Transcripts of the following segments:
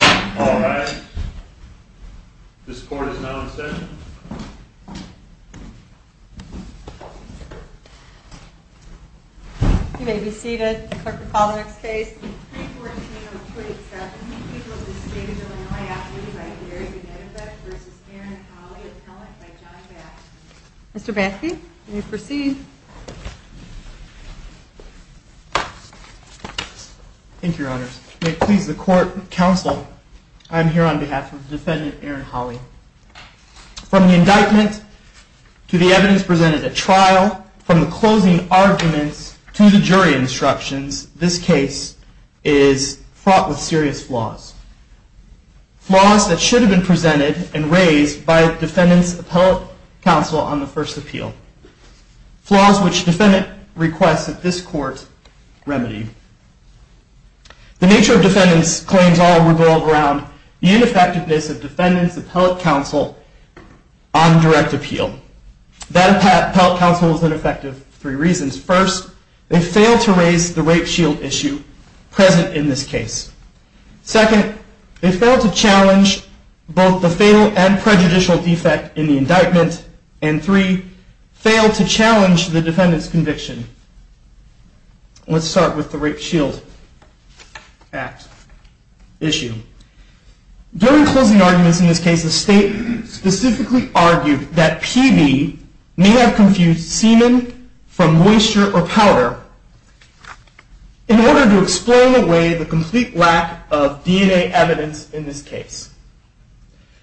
All rise. This court is now in session. You may be seated. The clerk will call the next case. Mr. Bansky, you may proceed. Thank you, Your Honor. May it please the court and counsel, I am here on behalf of the defendant Aaron Holley. From the indictment to the evidence presented at trial, from the closing arguments to the jury instructions, this case is fraught with serious flaws. Flaws that should have been presented and raised by defendant's appellate counsel on the first appeal. Flaws which defendant requests that this court remedy. The nature of defendant's claims all revolve around the ineffectiveness of defendant's appellate counsel on direct appeal. That appellate counsel is ineffective for three reasons. First, they fail to raise the rape shield issue present in this case. Second, they fail to challenge both the fatal and prejudicial defect in the indictment. And three, fail to challenge the defendant's conviction. Let's start with the rape shield act issue. During closing arguments in this case, the state specifically argued that PV may have confused semen from moisture or powder. In order to explain away the complete lack of DNA evidence in this case.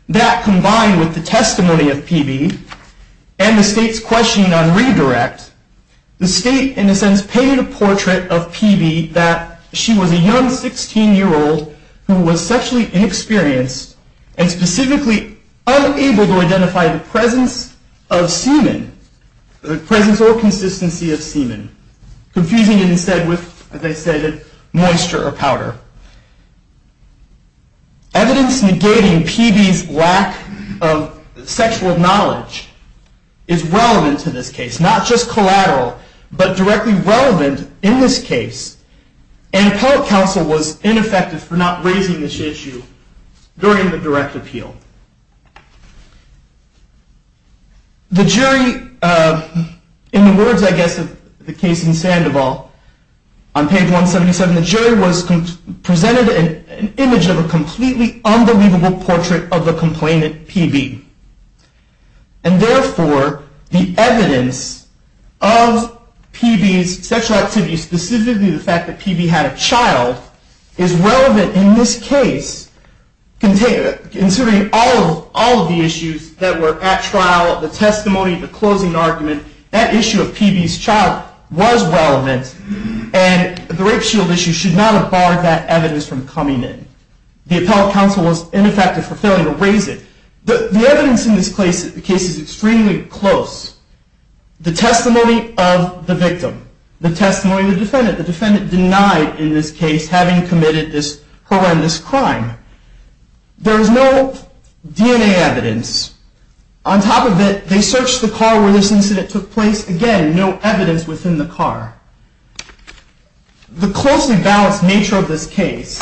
That combined with the testimony of PV and the state's questioning on redirect, the state in a sense painted a portrait of PV that she was a young 16 year old who was sexually inexperienced and specifically unable to identify the presence of semen. The presence or consistency of semen. Confusing it instead with, as I stated, moisture or powder. Evidence negating PV's lack of sexual knowledge is relevant to this case. Not just collateral, but directly relevant in this case. And appellate counsel was ineffective for not raising this issue during the direct appeal. The jury, in the words I guess of the case in Sandoval, on page 177, the jury presented an image of a completely unbelievable portrait of the complainant PV. And therefore, the evidence of PV's sexual activity, specifically the fact that PV had a child, is relevant in this case. Considering all of the issues that were at trial, the testimony, the closing argument, that issue of PV's child was relevant. And the rape shield issue should not have barred that evidence from coming in. The appellate counsel was ineffective for failing to raise it. The evidence in this case is extremely close. The testimony of the victim. The testimony of the defendant. The defendant denied in this case having committed this horrendous crime. There is no DNA evidence. On top of it, they searched the car where this incident took place. Again, no evidence within the car. The closely balanced nature of this case,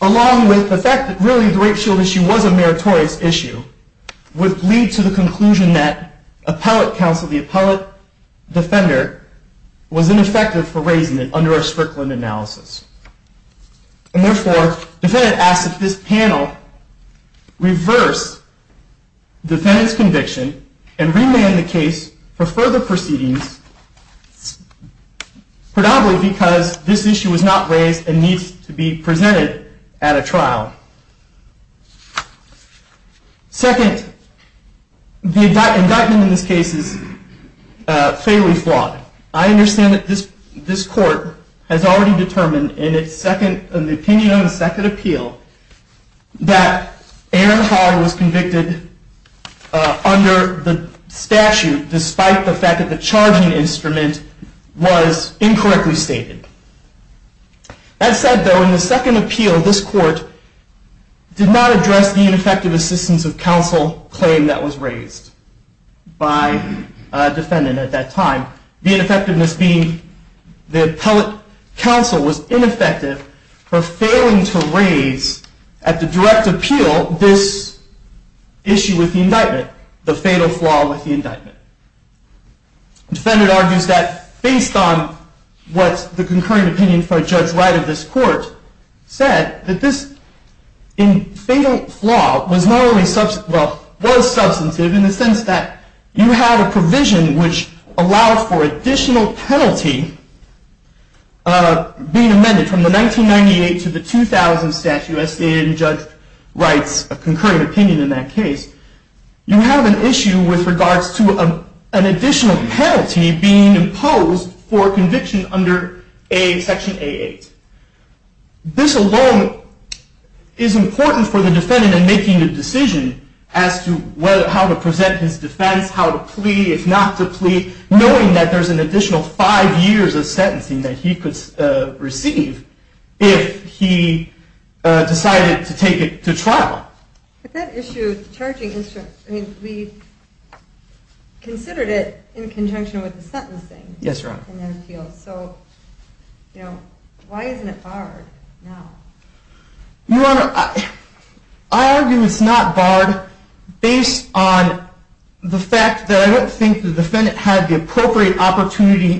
along with the fact that really the rape shield issue was a meritorious issue, would lead to the conclusion that appellate counsel, the appellate defender, was ineffective for raising it under a Strickland analysis. And therefore, the defendant asks that this panel reverse the defendant's conviction and remand the case for further proceedings, predominantly because this issue was not raised and needs to be presented at a trial. Second, the indictment in this case is fairly flawed. I understand that this court has already determined in the opinion of the second appeal that Aaron Hall was convicted under the statute despite the fact that the charging instrument was incorrectly stated. That said, though, in the second appeal, this court did not address the ineffective assistance of counsel claim that was raised by a defendant at that time. The ineffectiveness being the appellate counsel was ineffective for failing to raise at the direct appeal this issue with the indictment, the fatal flaw with the indictment. The defendant argues that based on what the concurring opinion for Judge Wright of this court said, that this fatal flaw was substantive in the sense that you have a provision which allowed for additional penalty being amended from the 1998 to the 2000 statute as stated in Judge Wright's concurring opinion in that case. You have an issue with regards to an additional penalty being imposed for conviction under section A8. This alone is important for the defendant in making a decision as to how to present his defense, how to plea, if not to plea, knowing that there's an additional five years of sentencing that he could receive if he decided to take it to trial. But that issue, the charging instrument, we considered it in conjunction with the sentencing. Yes, Your Honor. So why isn't it barred now? Your Honor, I argue it's not barred based on the fact that I don't think the defendant had the appropriate opportunity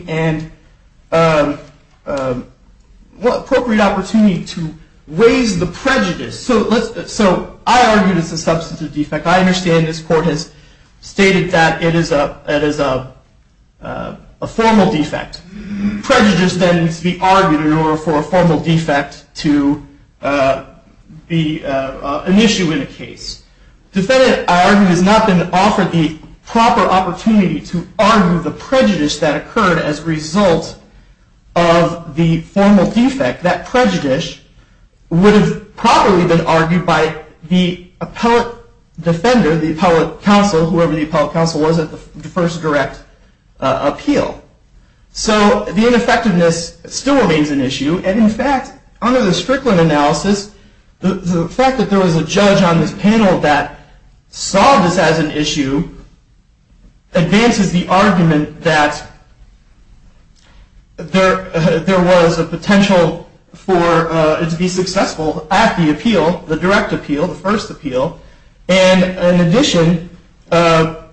to raise the prejudice. So I argue it's a substantive defect. I understand this court has stated that it is a formal defect. Prejudice then needs to be argued in order for a formal defect to be an issue in a case. The defendant, I argue, has not been offered the proper opportunity to argue the prejudice that occurred as a result of the formal defect. That prejudice would have probably been argued by the appellate defender, the appellate counsel, whoever the appellate counsel was at the first direct appeal. So the ineffectiveness still remains an issue. And in fact, under the Strickland analysis, the fact that there was a judge on this panel that saw this as an issue advances the argument that there was a potential for it to be successful at the appeal, the direct appeal, the first appeal. And in addition, the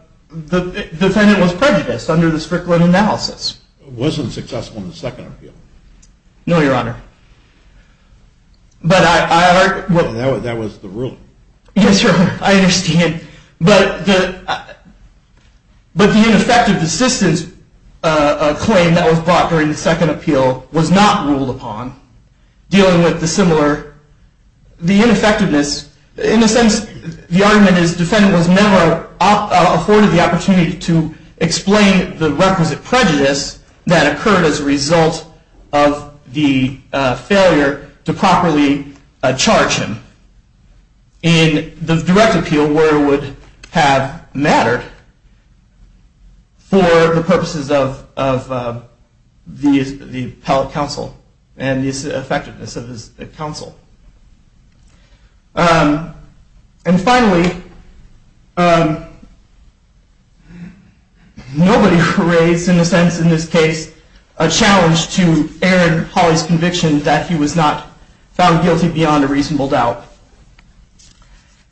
defendant was prejudiced under the Strickland analysis. It wasn't successful in the second appeal. No, Your Honor. That was the ruling. Yes, Your Honor. I understand. But the ineffective assistance claim that was brought during the second appeal was not ruled upon. Dealing with the similar, the ineffectiveness, in a sense, the argument is the defendant was never afforded the opportunity to explain the requisite prejudice that occurred as a result of the failure to properly charge him in the direct appeal where it would have mattered for the purposes of the appellate counsel and the effectiveness of his counsel. And finally, nobody raised, in a sense in this case, a challenge to Aaron Hawley's conviction that he was not found guilty beyond a reasonable doubt.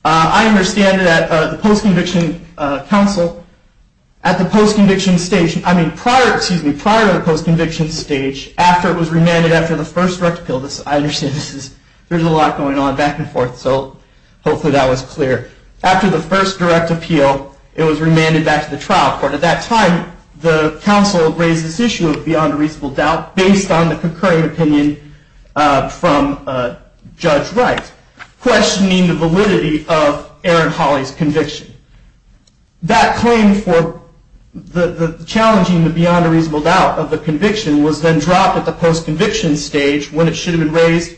I understand that the post-conviction counsel, at the post-conviction stage, I mean prior to the post-conviction stage, after it was remanded after the first direct appeal, I understand this is, there's a lot going on back and forth, so hopefully that was clear. After the first direct appeal, it was remanded back to the trial court. At that time, the counsel raised this issue of beyond a reasonable doubt based on the concurring opinion from Judge Wright, questioning the validity of Aaron Hawley's conviction. That claim for challenging the beyond a reasonable doubt of the conviction was then dropped at the post-conviction stage when it should have been raised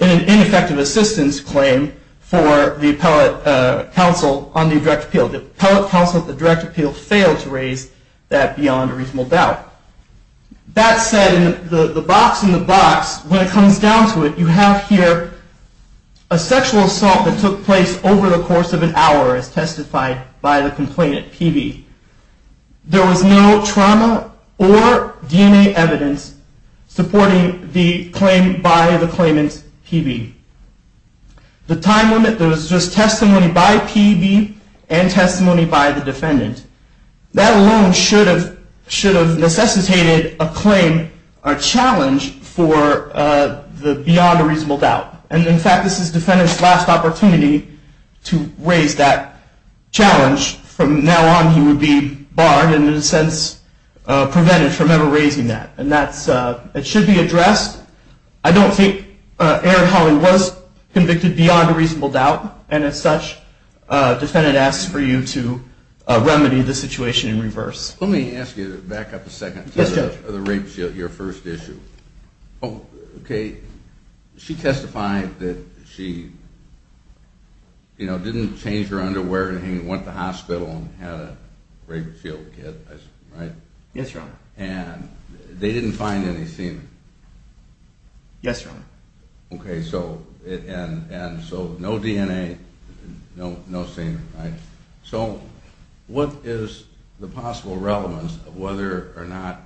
in an ineffective assistance claim for the appellate counsel on the direct appeal. The appellate counsel at the direct appeal failed to raise that beyond a reasonable doubt. That said, the box in the box, when it comes down to it, you have here a sexual assault that took place over the course of an hour as testified by the complainant, PB. There was no trauma or DNA evidence supporting the claim by the claimant, PB. The time limit, there was just testimony by PB and testimony by the defendant. That alone should have necessitated a claim, a challenge, for the beyond a reasonable doubt. And in fact, this is the defendant's last opportunity to raise that challenge. From now on, he would be barred and in a sense prevented from ever raising that. And that should be addressed. I don't think Aaron Hawley was convicted beyond a reasonable doubt. And as such, the defendant asks for you to remedy the situation in reverse. Let me ask you to back up a second to the rape your first issue. Okay, she testified that she didn't change her underwear and went to the hospital and had a rape field kit, right? Yes, your honor. And they didn't find any semen? Yes, your honor. Okay, so no DNA, no semen, right? So what is the possible relevance of whether or not,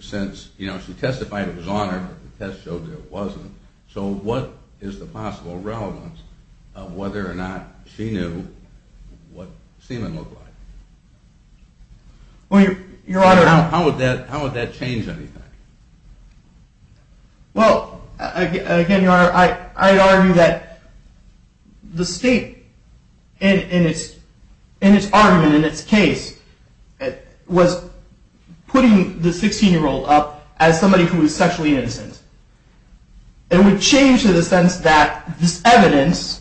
since she testified it was on her and the test showed it wasn't, so what is the possible relevance of whether or not she knew what semen looked like? Well, your honor... How would that change anything? Well, again, your honor, I argue that the state, in its argument, in its case, was putting the 16-year-old up as somebody who was sexually innocent. It would change to the sense that this evidence,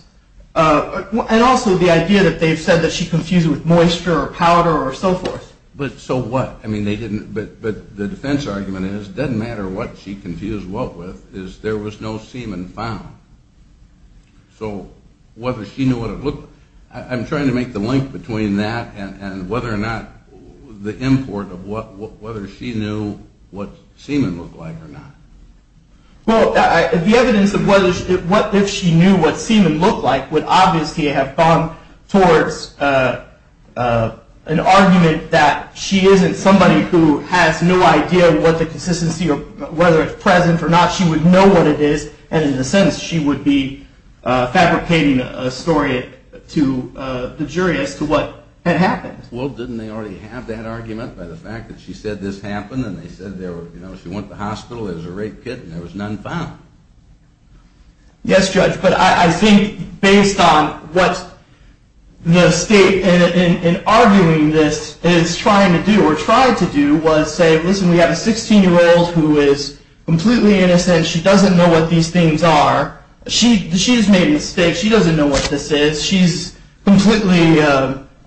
and also the idea that they've said that she confused it with moisture or powder or so forth. But so what? But the defense argument is, it doesn't matter what she confused what with, is there was no semen found. So whether she knew what it looked... I'm trying to make the link between that and whether or not the import of whether she knew what semen looked like or not. Well, the evidence of what if she knew what semen looked like would obviously have gone towards an argument that she isn't somebody who has no idea what the consistency or whether it's present or not. She would know what it is, and in a sense, she would be fabricating a story to the jury as to what had happened. Well, didn't they already have that argument by the fact that she said this happened, and they said she went to the hospital, there was a rape kit, and there was none found? Yes, Judge, but I think based on what the state, in arguing this, is trying to do or tried to do, was say, listen, we have a 16-year-old who is completely innocent, she doesn't know what these things are, she's made a mistake, she doesn't know what this is, she's completely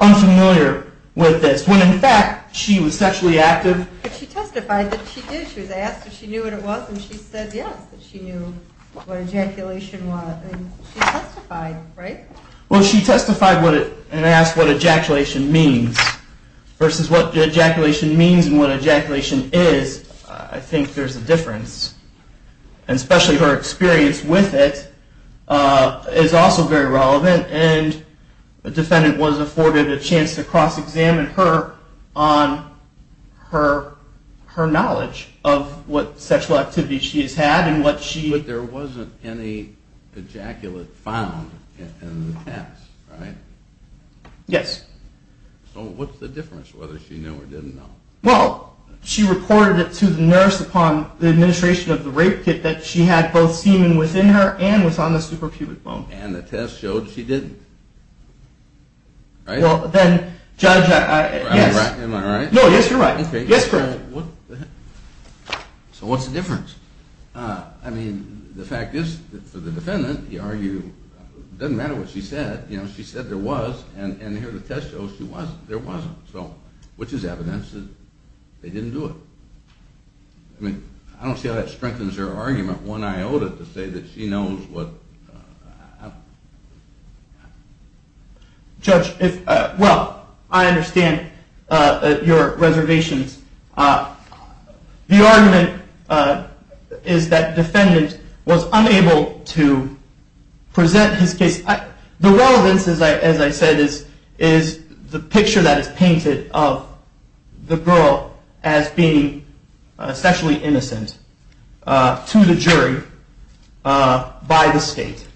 unfamiliar with this, when in fact she was sexually active. But she testified that she did, she was asked if she knew what it was, and she said yes, that she knew what ejaculation was, and she testified, right? Well, she testified and asked what ejaculation means, versus what ejaculation means and what ejaculation is, I think there's a difference, and especially her experience with it is also very relevant, and the defendant was afforded a chance to cross-examine her on her knowledge of what sexual activity she has had. But there wasn't any ejaculate found in the test, right? Yes. So what's the difference, whether she knew or didn't know? Well, she reported it to the nurse upon the administration of the rape kit, that she had both semen within her and was on the suprapubic bone. And the test showed she didn't, right? Well, then, judge, yes. Am I right? No, yes, you're right. So what's the difference? I mean, the fact is, for the defendant, it doesn't matter what she said, you know, she said there was, and here the test shows there wasn't, which is evidence that they didn't do it. I mean, I don't see how that strengthens her argument one iota to say that she knows what... Judge, well, I understand your reservations. The argument is that defendant was unable to present his case. The relevance, as I said, is the picture that is painted of the girl as being sexually innocent to the jury by the state.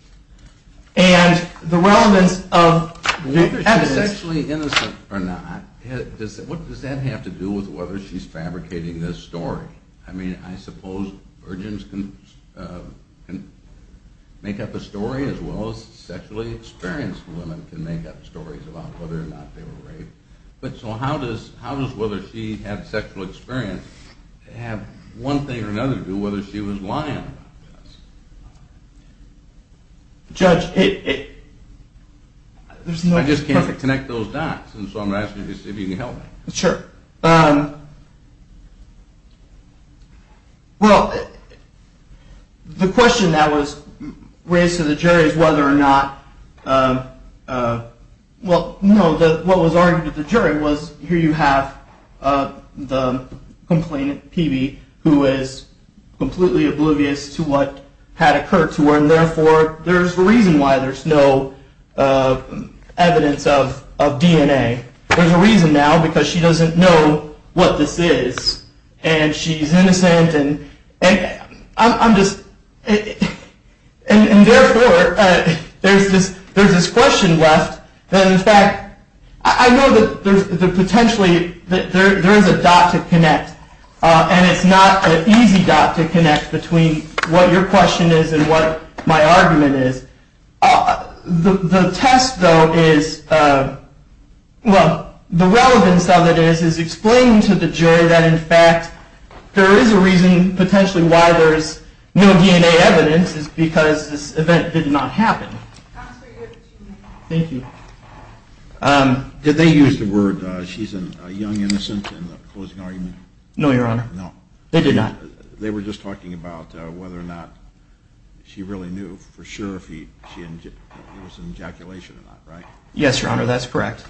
And the relevance of the evidence... Whether she's sexually innocent or not, what does that have to do with whether she's fabricating this story? I mean, I suppose virgins can make up a story as well as sexually experienced women can make up stories about whether or not they were raped. So how does whether she had sexual experience have one thing or another to do with whether she was lying about the test? Judge, it... I just can't connect those dots, so I'm asking if you can help me. Sure. Well, the question that was raised to the jury is whether or not... Well, no, what was argued at the jury was here you have the complainant, PB, who is completely oblivious to what had occurred to her, and therefore there's a reason why there's no evidence of DNA. There's a reason now, because she doesn't know what this is. And she's innocent, and I'm just... And therefore, there's this question left that, in fact, I know that potentially there is a dot to connect, and it's not an easy dot to connect between what your question is and what my argument is. The test, though, is... Well, the relevance of it is explaining to the jury that, in fact, there is a reason potentially why there's no DNA evidence is because this event did not happen. Thank you. Did they use the word she's a young innocent in the closing argument? No, Your Honor. No. They did not. They were just talking about whether or not she really knew for sure if there was an ejaculation or not, right? Yes, Your Honor. That's correct.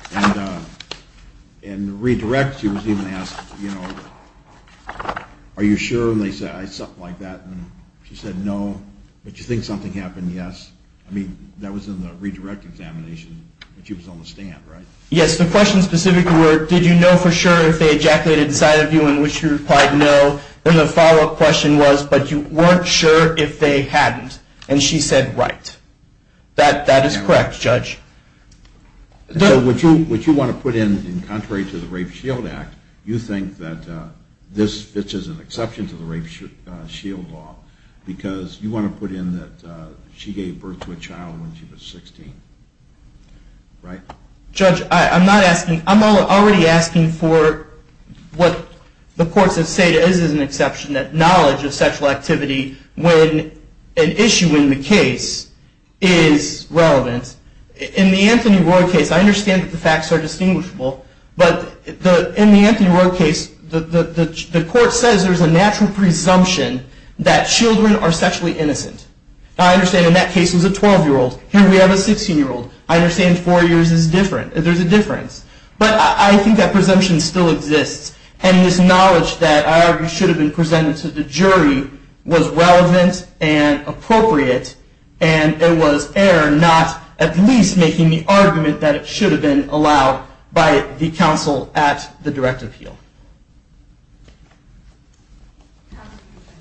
And redirect, she was even asked, you know, are you sure? And they said something like that, and she said no. But you think something happened? Yes. I mean, that was in the redirect examination that she was on the stand, right? Yes. The questions specifically were did you know for sure if they ejaculated inside of you in which you replied no? And the follow-up question was, but you weren't sure if they hadn't? And she said right. That is correct, Judge. So what you want to put in, in contrary to the Rape Shield Act, you think that this is an exception to the Rape Shield Law because you want to put in that she gave birth to a child when she was 16, right? Judge, I'm not asking, I'm already asking for what the courts have said is an exception, that knowledge of sexual activity when an issue in the case is relevant. In the Anthony Roy case, I understand that the facts are distinguishable, but in the Anthony Roy case, the court says there's a natural presumption that children are sexually innocent. I understand in that case it was a 12-year-old. Here we have a 16-year-old. I understand four years is different. There's a difference. But I think that presumption still exists. And this knowledge that should have been presented to the jury was relevant and appropriate, and it was error not at least making the argument that it should have been allowed by the counsel at the direct appeal.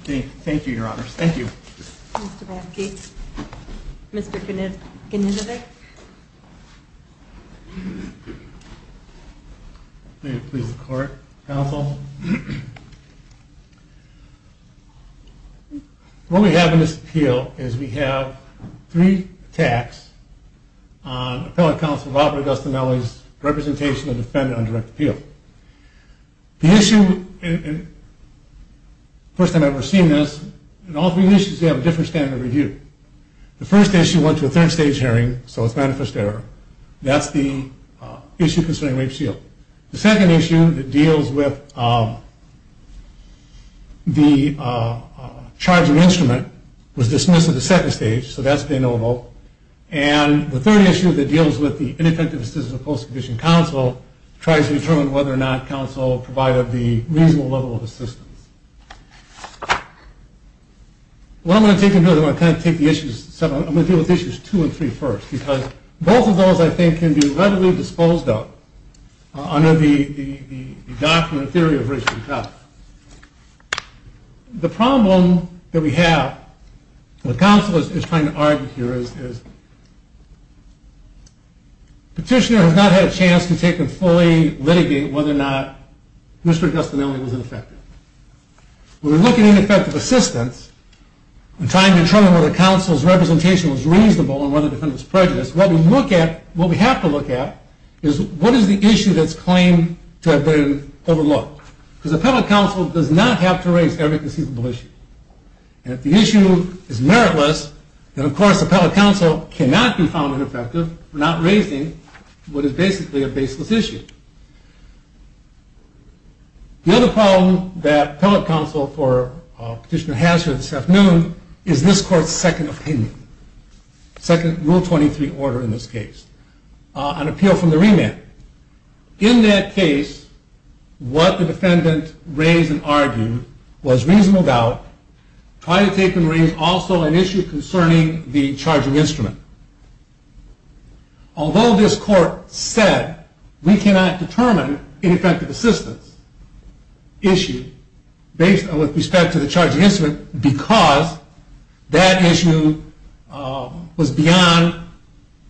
Thank you, Your Honors. Thank you. Mr. Basket, Mr. Knizovic. May it please the court, counsel. What we have in this appeal is we have three attacks on appellate counsel Robert Agostinelli's representation of defendant on direct appeal. The issue, first time I've ever seen this, in all three issues they have a different standard of review. The first issue went to a third stage hearing, so it's manifest error. That's the issue concerning rape shield. The second issue that deals with the charge of instrument was dismissed at the second stage, so that's de novo. And the third issue that deals with the ineffective assistance of post-condition counsel tries to determine whether or not counsel provided the reasonable level of assistance. What I'm going to take into account, I'm going to deal with issues two and three first. Because both of those, I think, can be readily disposed of under the document theory of race and color. The problem that we have with counsel is trying to argue here is petitioner has not had a chance to take and fully litigate whether or not Mr. Agostinelli was ineffective. When we look at ineffective assistance and trying to determine whether counsel's representation was reasonable and whether the defendant was prejudiced, what we have to look at is what is the issue that's claimed to have been overlooked. Because appellate counsel does not have to raise every conceivable issue. And if the issue is meritless, then of course appellate counsel cannot be found ineffective for not raising what is basically a baseless issue. The other problem that appellate counsel for petitioner has here this afternoon is this court's second opinion, second rule 23 order in this case. An appeal from the remand. In that case, what the defendant raised and argued was reasonable doubt. Try to take and raise also an issue concerning the charging instrument. Although this court said we cannot determine ineffective assistance issue with respect to the charging instrument because that issue was beyond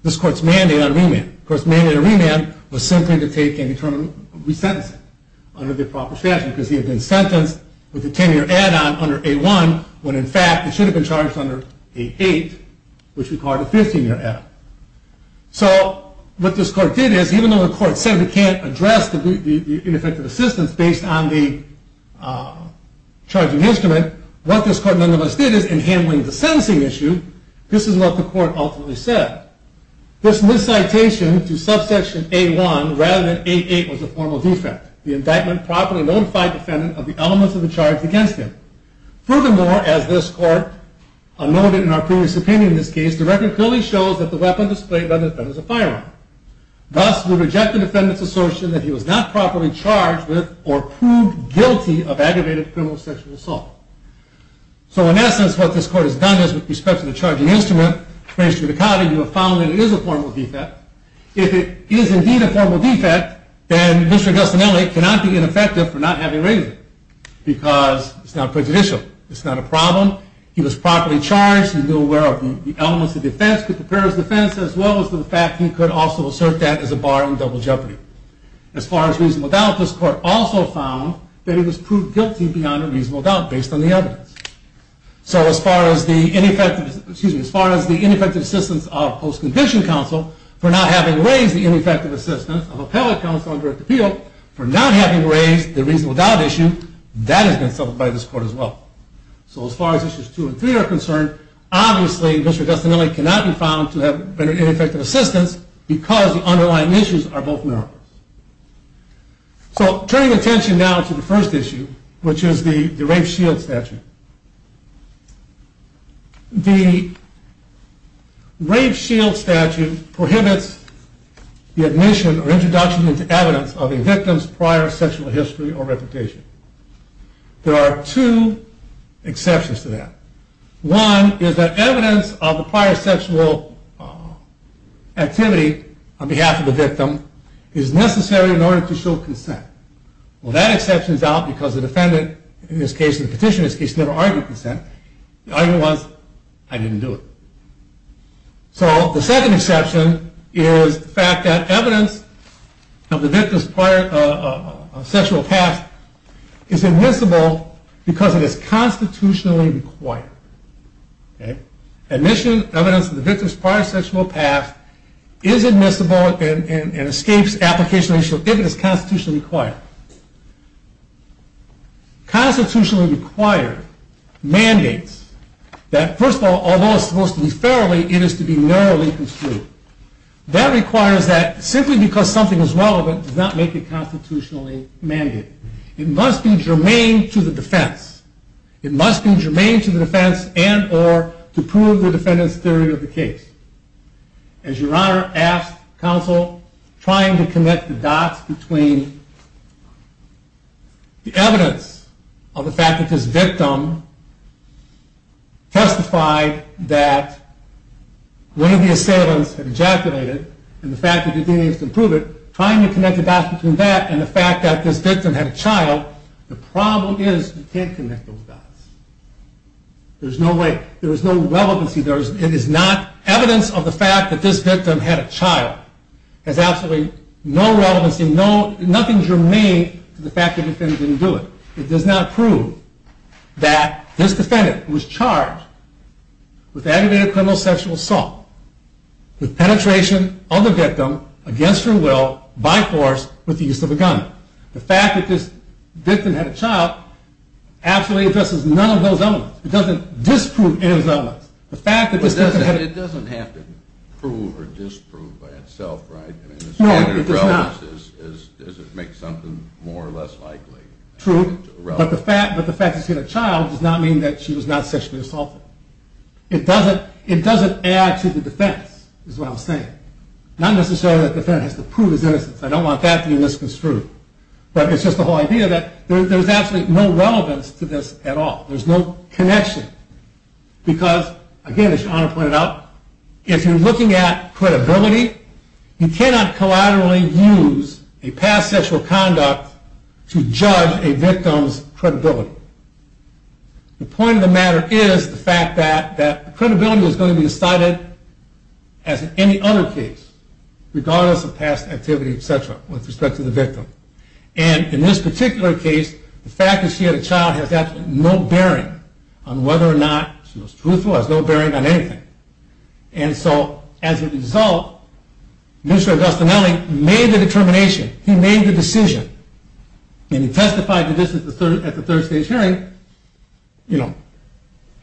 this court's mandate on remand. Of course, mandate on remand was simply to take and re-sentence it under the proper statute because he had been sentenced with a 10-year add-on under 8-1, when in fact it should have been charged under 8-8, which required a 15-year add-on. So what this court did is even though the court said we can't address the ineffective assistance based on the charging instrument, what this court nonetheless did is in handling the sentencing issue, this is what the court ultimately said. This miscitation to subsection A-1 rather than A-8 was a formal defect. The indictment properly notified defendant of the elements of the charge against him. Furthermore, as this court noted in our previous opinion in this case, the record clearly shows that the weapon displayed by the defendant is a firearm. Thus, we reject the defendant's assertion that he was not properly charged with or proved guilty of aggravated criminal sexual assault. So in essence, what this court has done is with respect to the charging instrument, you have found that it is a formal defect. If it is indeed a formal defect, then Mr. Gustinelli cannot be ineffective for not having raised it because it's not prejudicial. It's not a problem. He was properly charged. He was aware of the elements of defense, the purpose of defense, as well as the fact that he could also assert that as a bar on double jeopardy. As far as reasonable doubt, this court also found that he was proved guilty beyond a reasonable doubt based on the evidence. So as far as the ineffective assistance of post-conviction counsel for not having raised the ineffective assistance of appellate counsel on direct appeal, for not having raised the reasonable doubt issue, that has been settled by this court as well. So as far as issues two and three are concerned, obviously Mr. Gustinelli cannot be found to have rendered ineffective assistance because the underlying issues are both narrow. So turning attention now to the first issue, which is the rape shield statute. The rape shield statute prohibits the admission or introduction into evidence of a victim's prior sexual history or reputation. There are two exceptions to that. One is that evidence of the prior sexual activity on behalf of the victim is necessary in order to show consent. Well that exception is out because the defendant in this case, the petitioner in this case, never argued consent. The argument was, I didn't do it. So the second exception is the fact that evidence of the victim's prior sexual past is admissible because it is constitutionally required. Admission, evidence of the victim's prior sexual past is admissible and escapes application if it is constitutionally required. Constitutionally required mandates that, first of all, although it's supposed to be fairly, it is to be narrowly construed. That requires that simply because something is relevant does not make it constitutionally mandated. It must be germane to the defense. It must be germane to the defense and or to prove the defendant's theory of the case. As your honor asked counsel, trying to connect the dots between the evidence of the fact that this victim testified that one of the assailants had ejaculated and the fact that the defendant needs to prove it, trying to connect the dots between that and the fact that this victim had a child, the problem is you can't connect those dots. There's no way. Evidence of the fact that this victim had a child has absolutely no relevancy, nothing germane to the fact that the defendant didn't do it. It does not prove that this defendant was charged with aggravated criminal sexual assault, with penetration of the victim against her will by force with the use of a gun. The fact that this victim had a child absolutely addresses none of those elements. It doesn't disprove any of those elements. It doesn't have to prove or disprove by itself, right? No, it does not. Does it make something more or less likely? True, but the fact that she had a child does not mean that she was not sexually assaulted. It doesn't add to the defense, is what I'm saying. Not necessarily that the defendant has to prove his innocence. I don't want that to be misconstrued. But it's just the whole idea that there's absolutely no relevance to this at all. There's no connection. Because, again, as your Honor pointed out, if you're looking at credibility, you cannot collaterally use a past sexual conduct to judge a victim's credibility. The point of the matter is the fact that credibility is going to be decided as in any other case, regardless of past activity, et cetera, with respect to the victim. And in this particular case, the fact that she had a child has absolutely no bearing on whether or not she was truthful. It has no bearing on anything. And so, as a result, Mr. Agostinelli made the determination. He made the decision. And he testified to this at the third stage hearing. You know,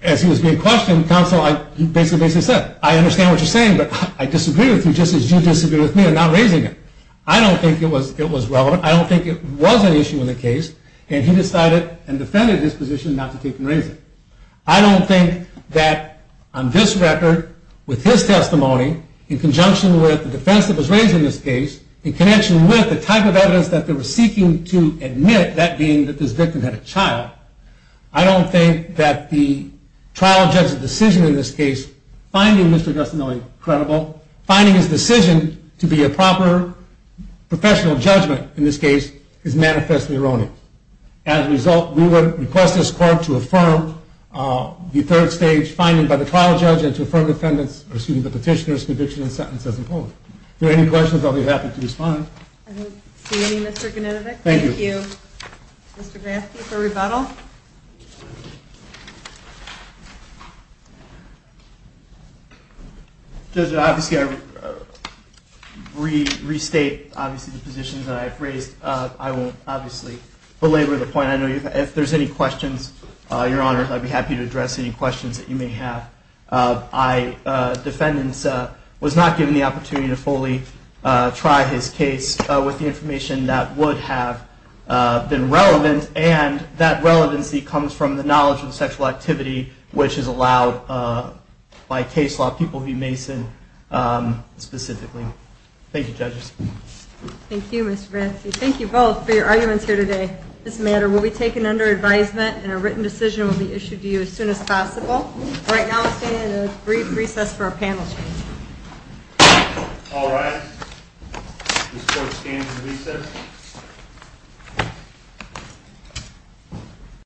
as he was being questioned, counsel, he basically said, I understand what you're saying, but I disagree with you just as you disagree with me in not raising it. I don't think it was relevant. I don't think it was an issue in the case. And he decided and defended his position not to take and raise it. I don't think that, on this record, with his testimony, in conjunction with the defense that was raised in this case, in connection with the type of evidence that they were seeking to admit, that being that this victim had a child, I don't think that the trial judge's decision in this case, finding Mr. Agostinelli credible, finding his decision to be a proper professional judgment in this case, is manifestly erroneous. As a result, we would request this court to affirm the third stage finding by the trial judge and to affirm the petitioner's conviction and sentence as employed. If there are any questions, I'll be happy to respond. I don't see any, Mr. Genetovic. Thank you. Thank you, Mr. Grafke, for rebuttal. Judge, obviously I restate, obviously, the positions that I've raised. I won't, obviously, belabor the point. I know if there's any questions, Your Honor, I'd be happy to address any questions that you may have. Defendant was not given the opportunity to fully try his case with the information that would have been relevant, and that relevancy comes from the knowledge of the sexual activity, which is allowed by case law, People v. Mason, specifically. Thank you, judges. Thank you, Mr. Grafke. Thank you both for your arguments here today. This matter will be taken under advisement, and a written decision will be issued to you as soon as possible. Right now, we're staying in a brief recess for a panel discussion. All rise. This court stands in recess.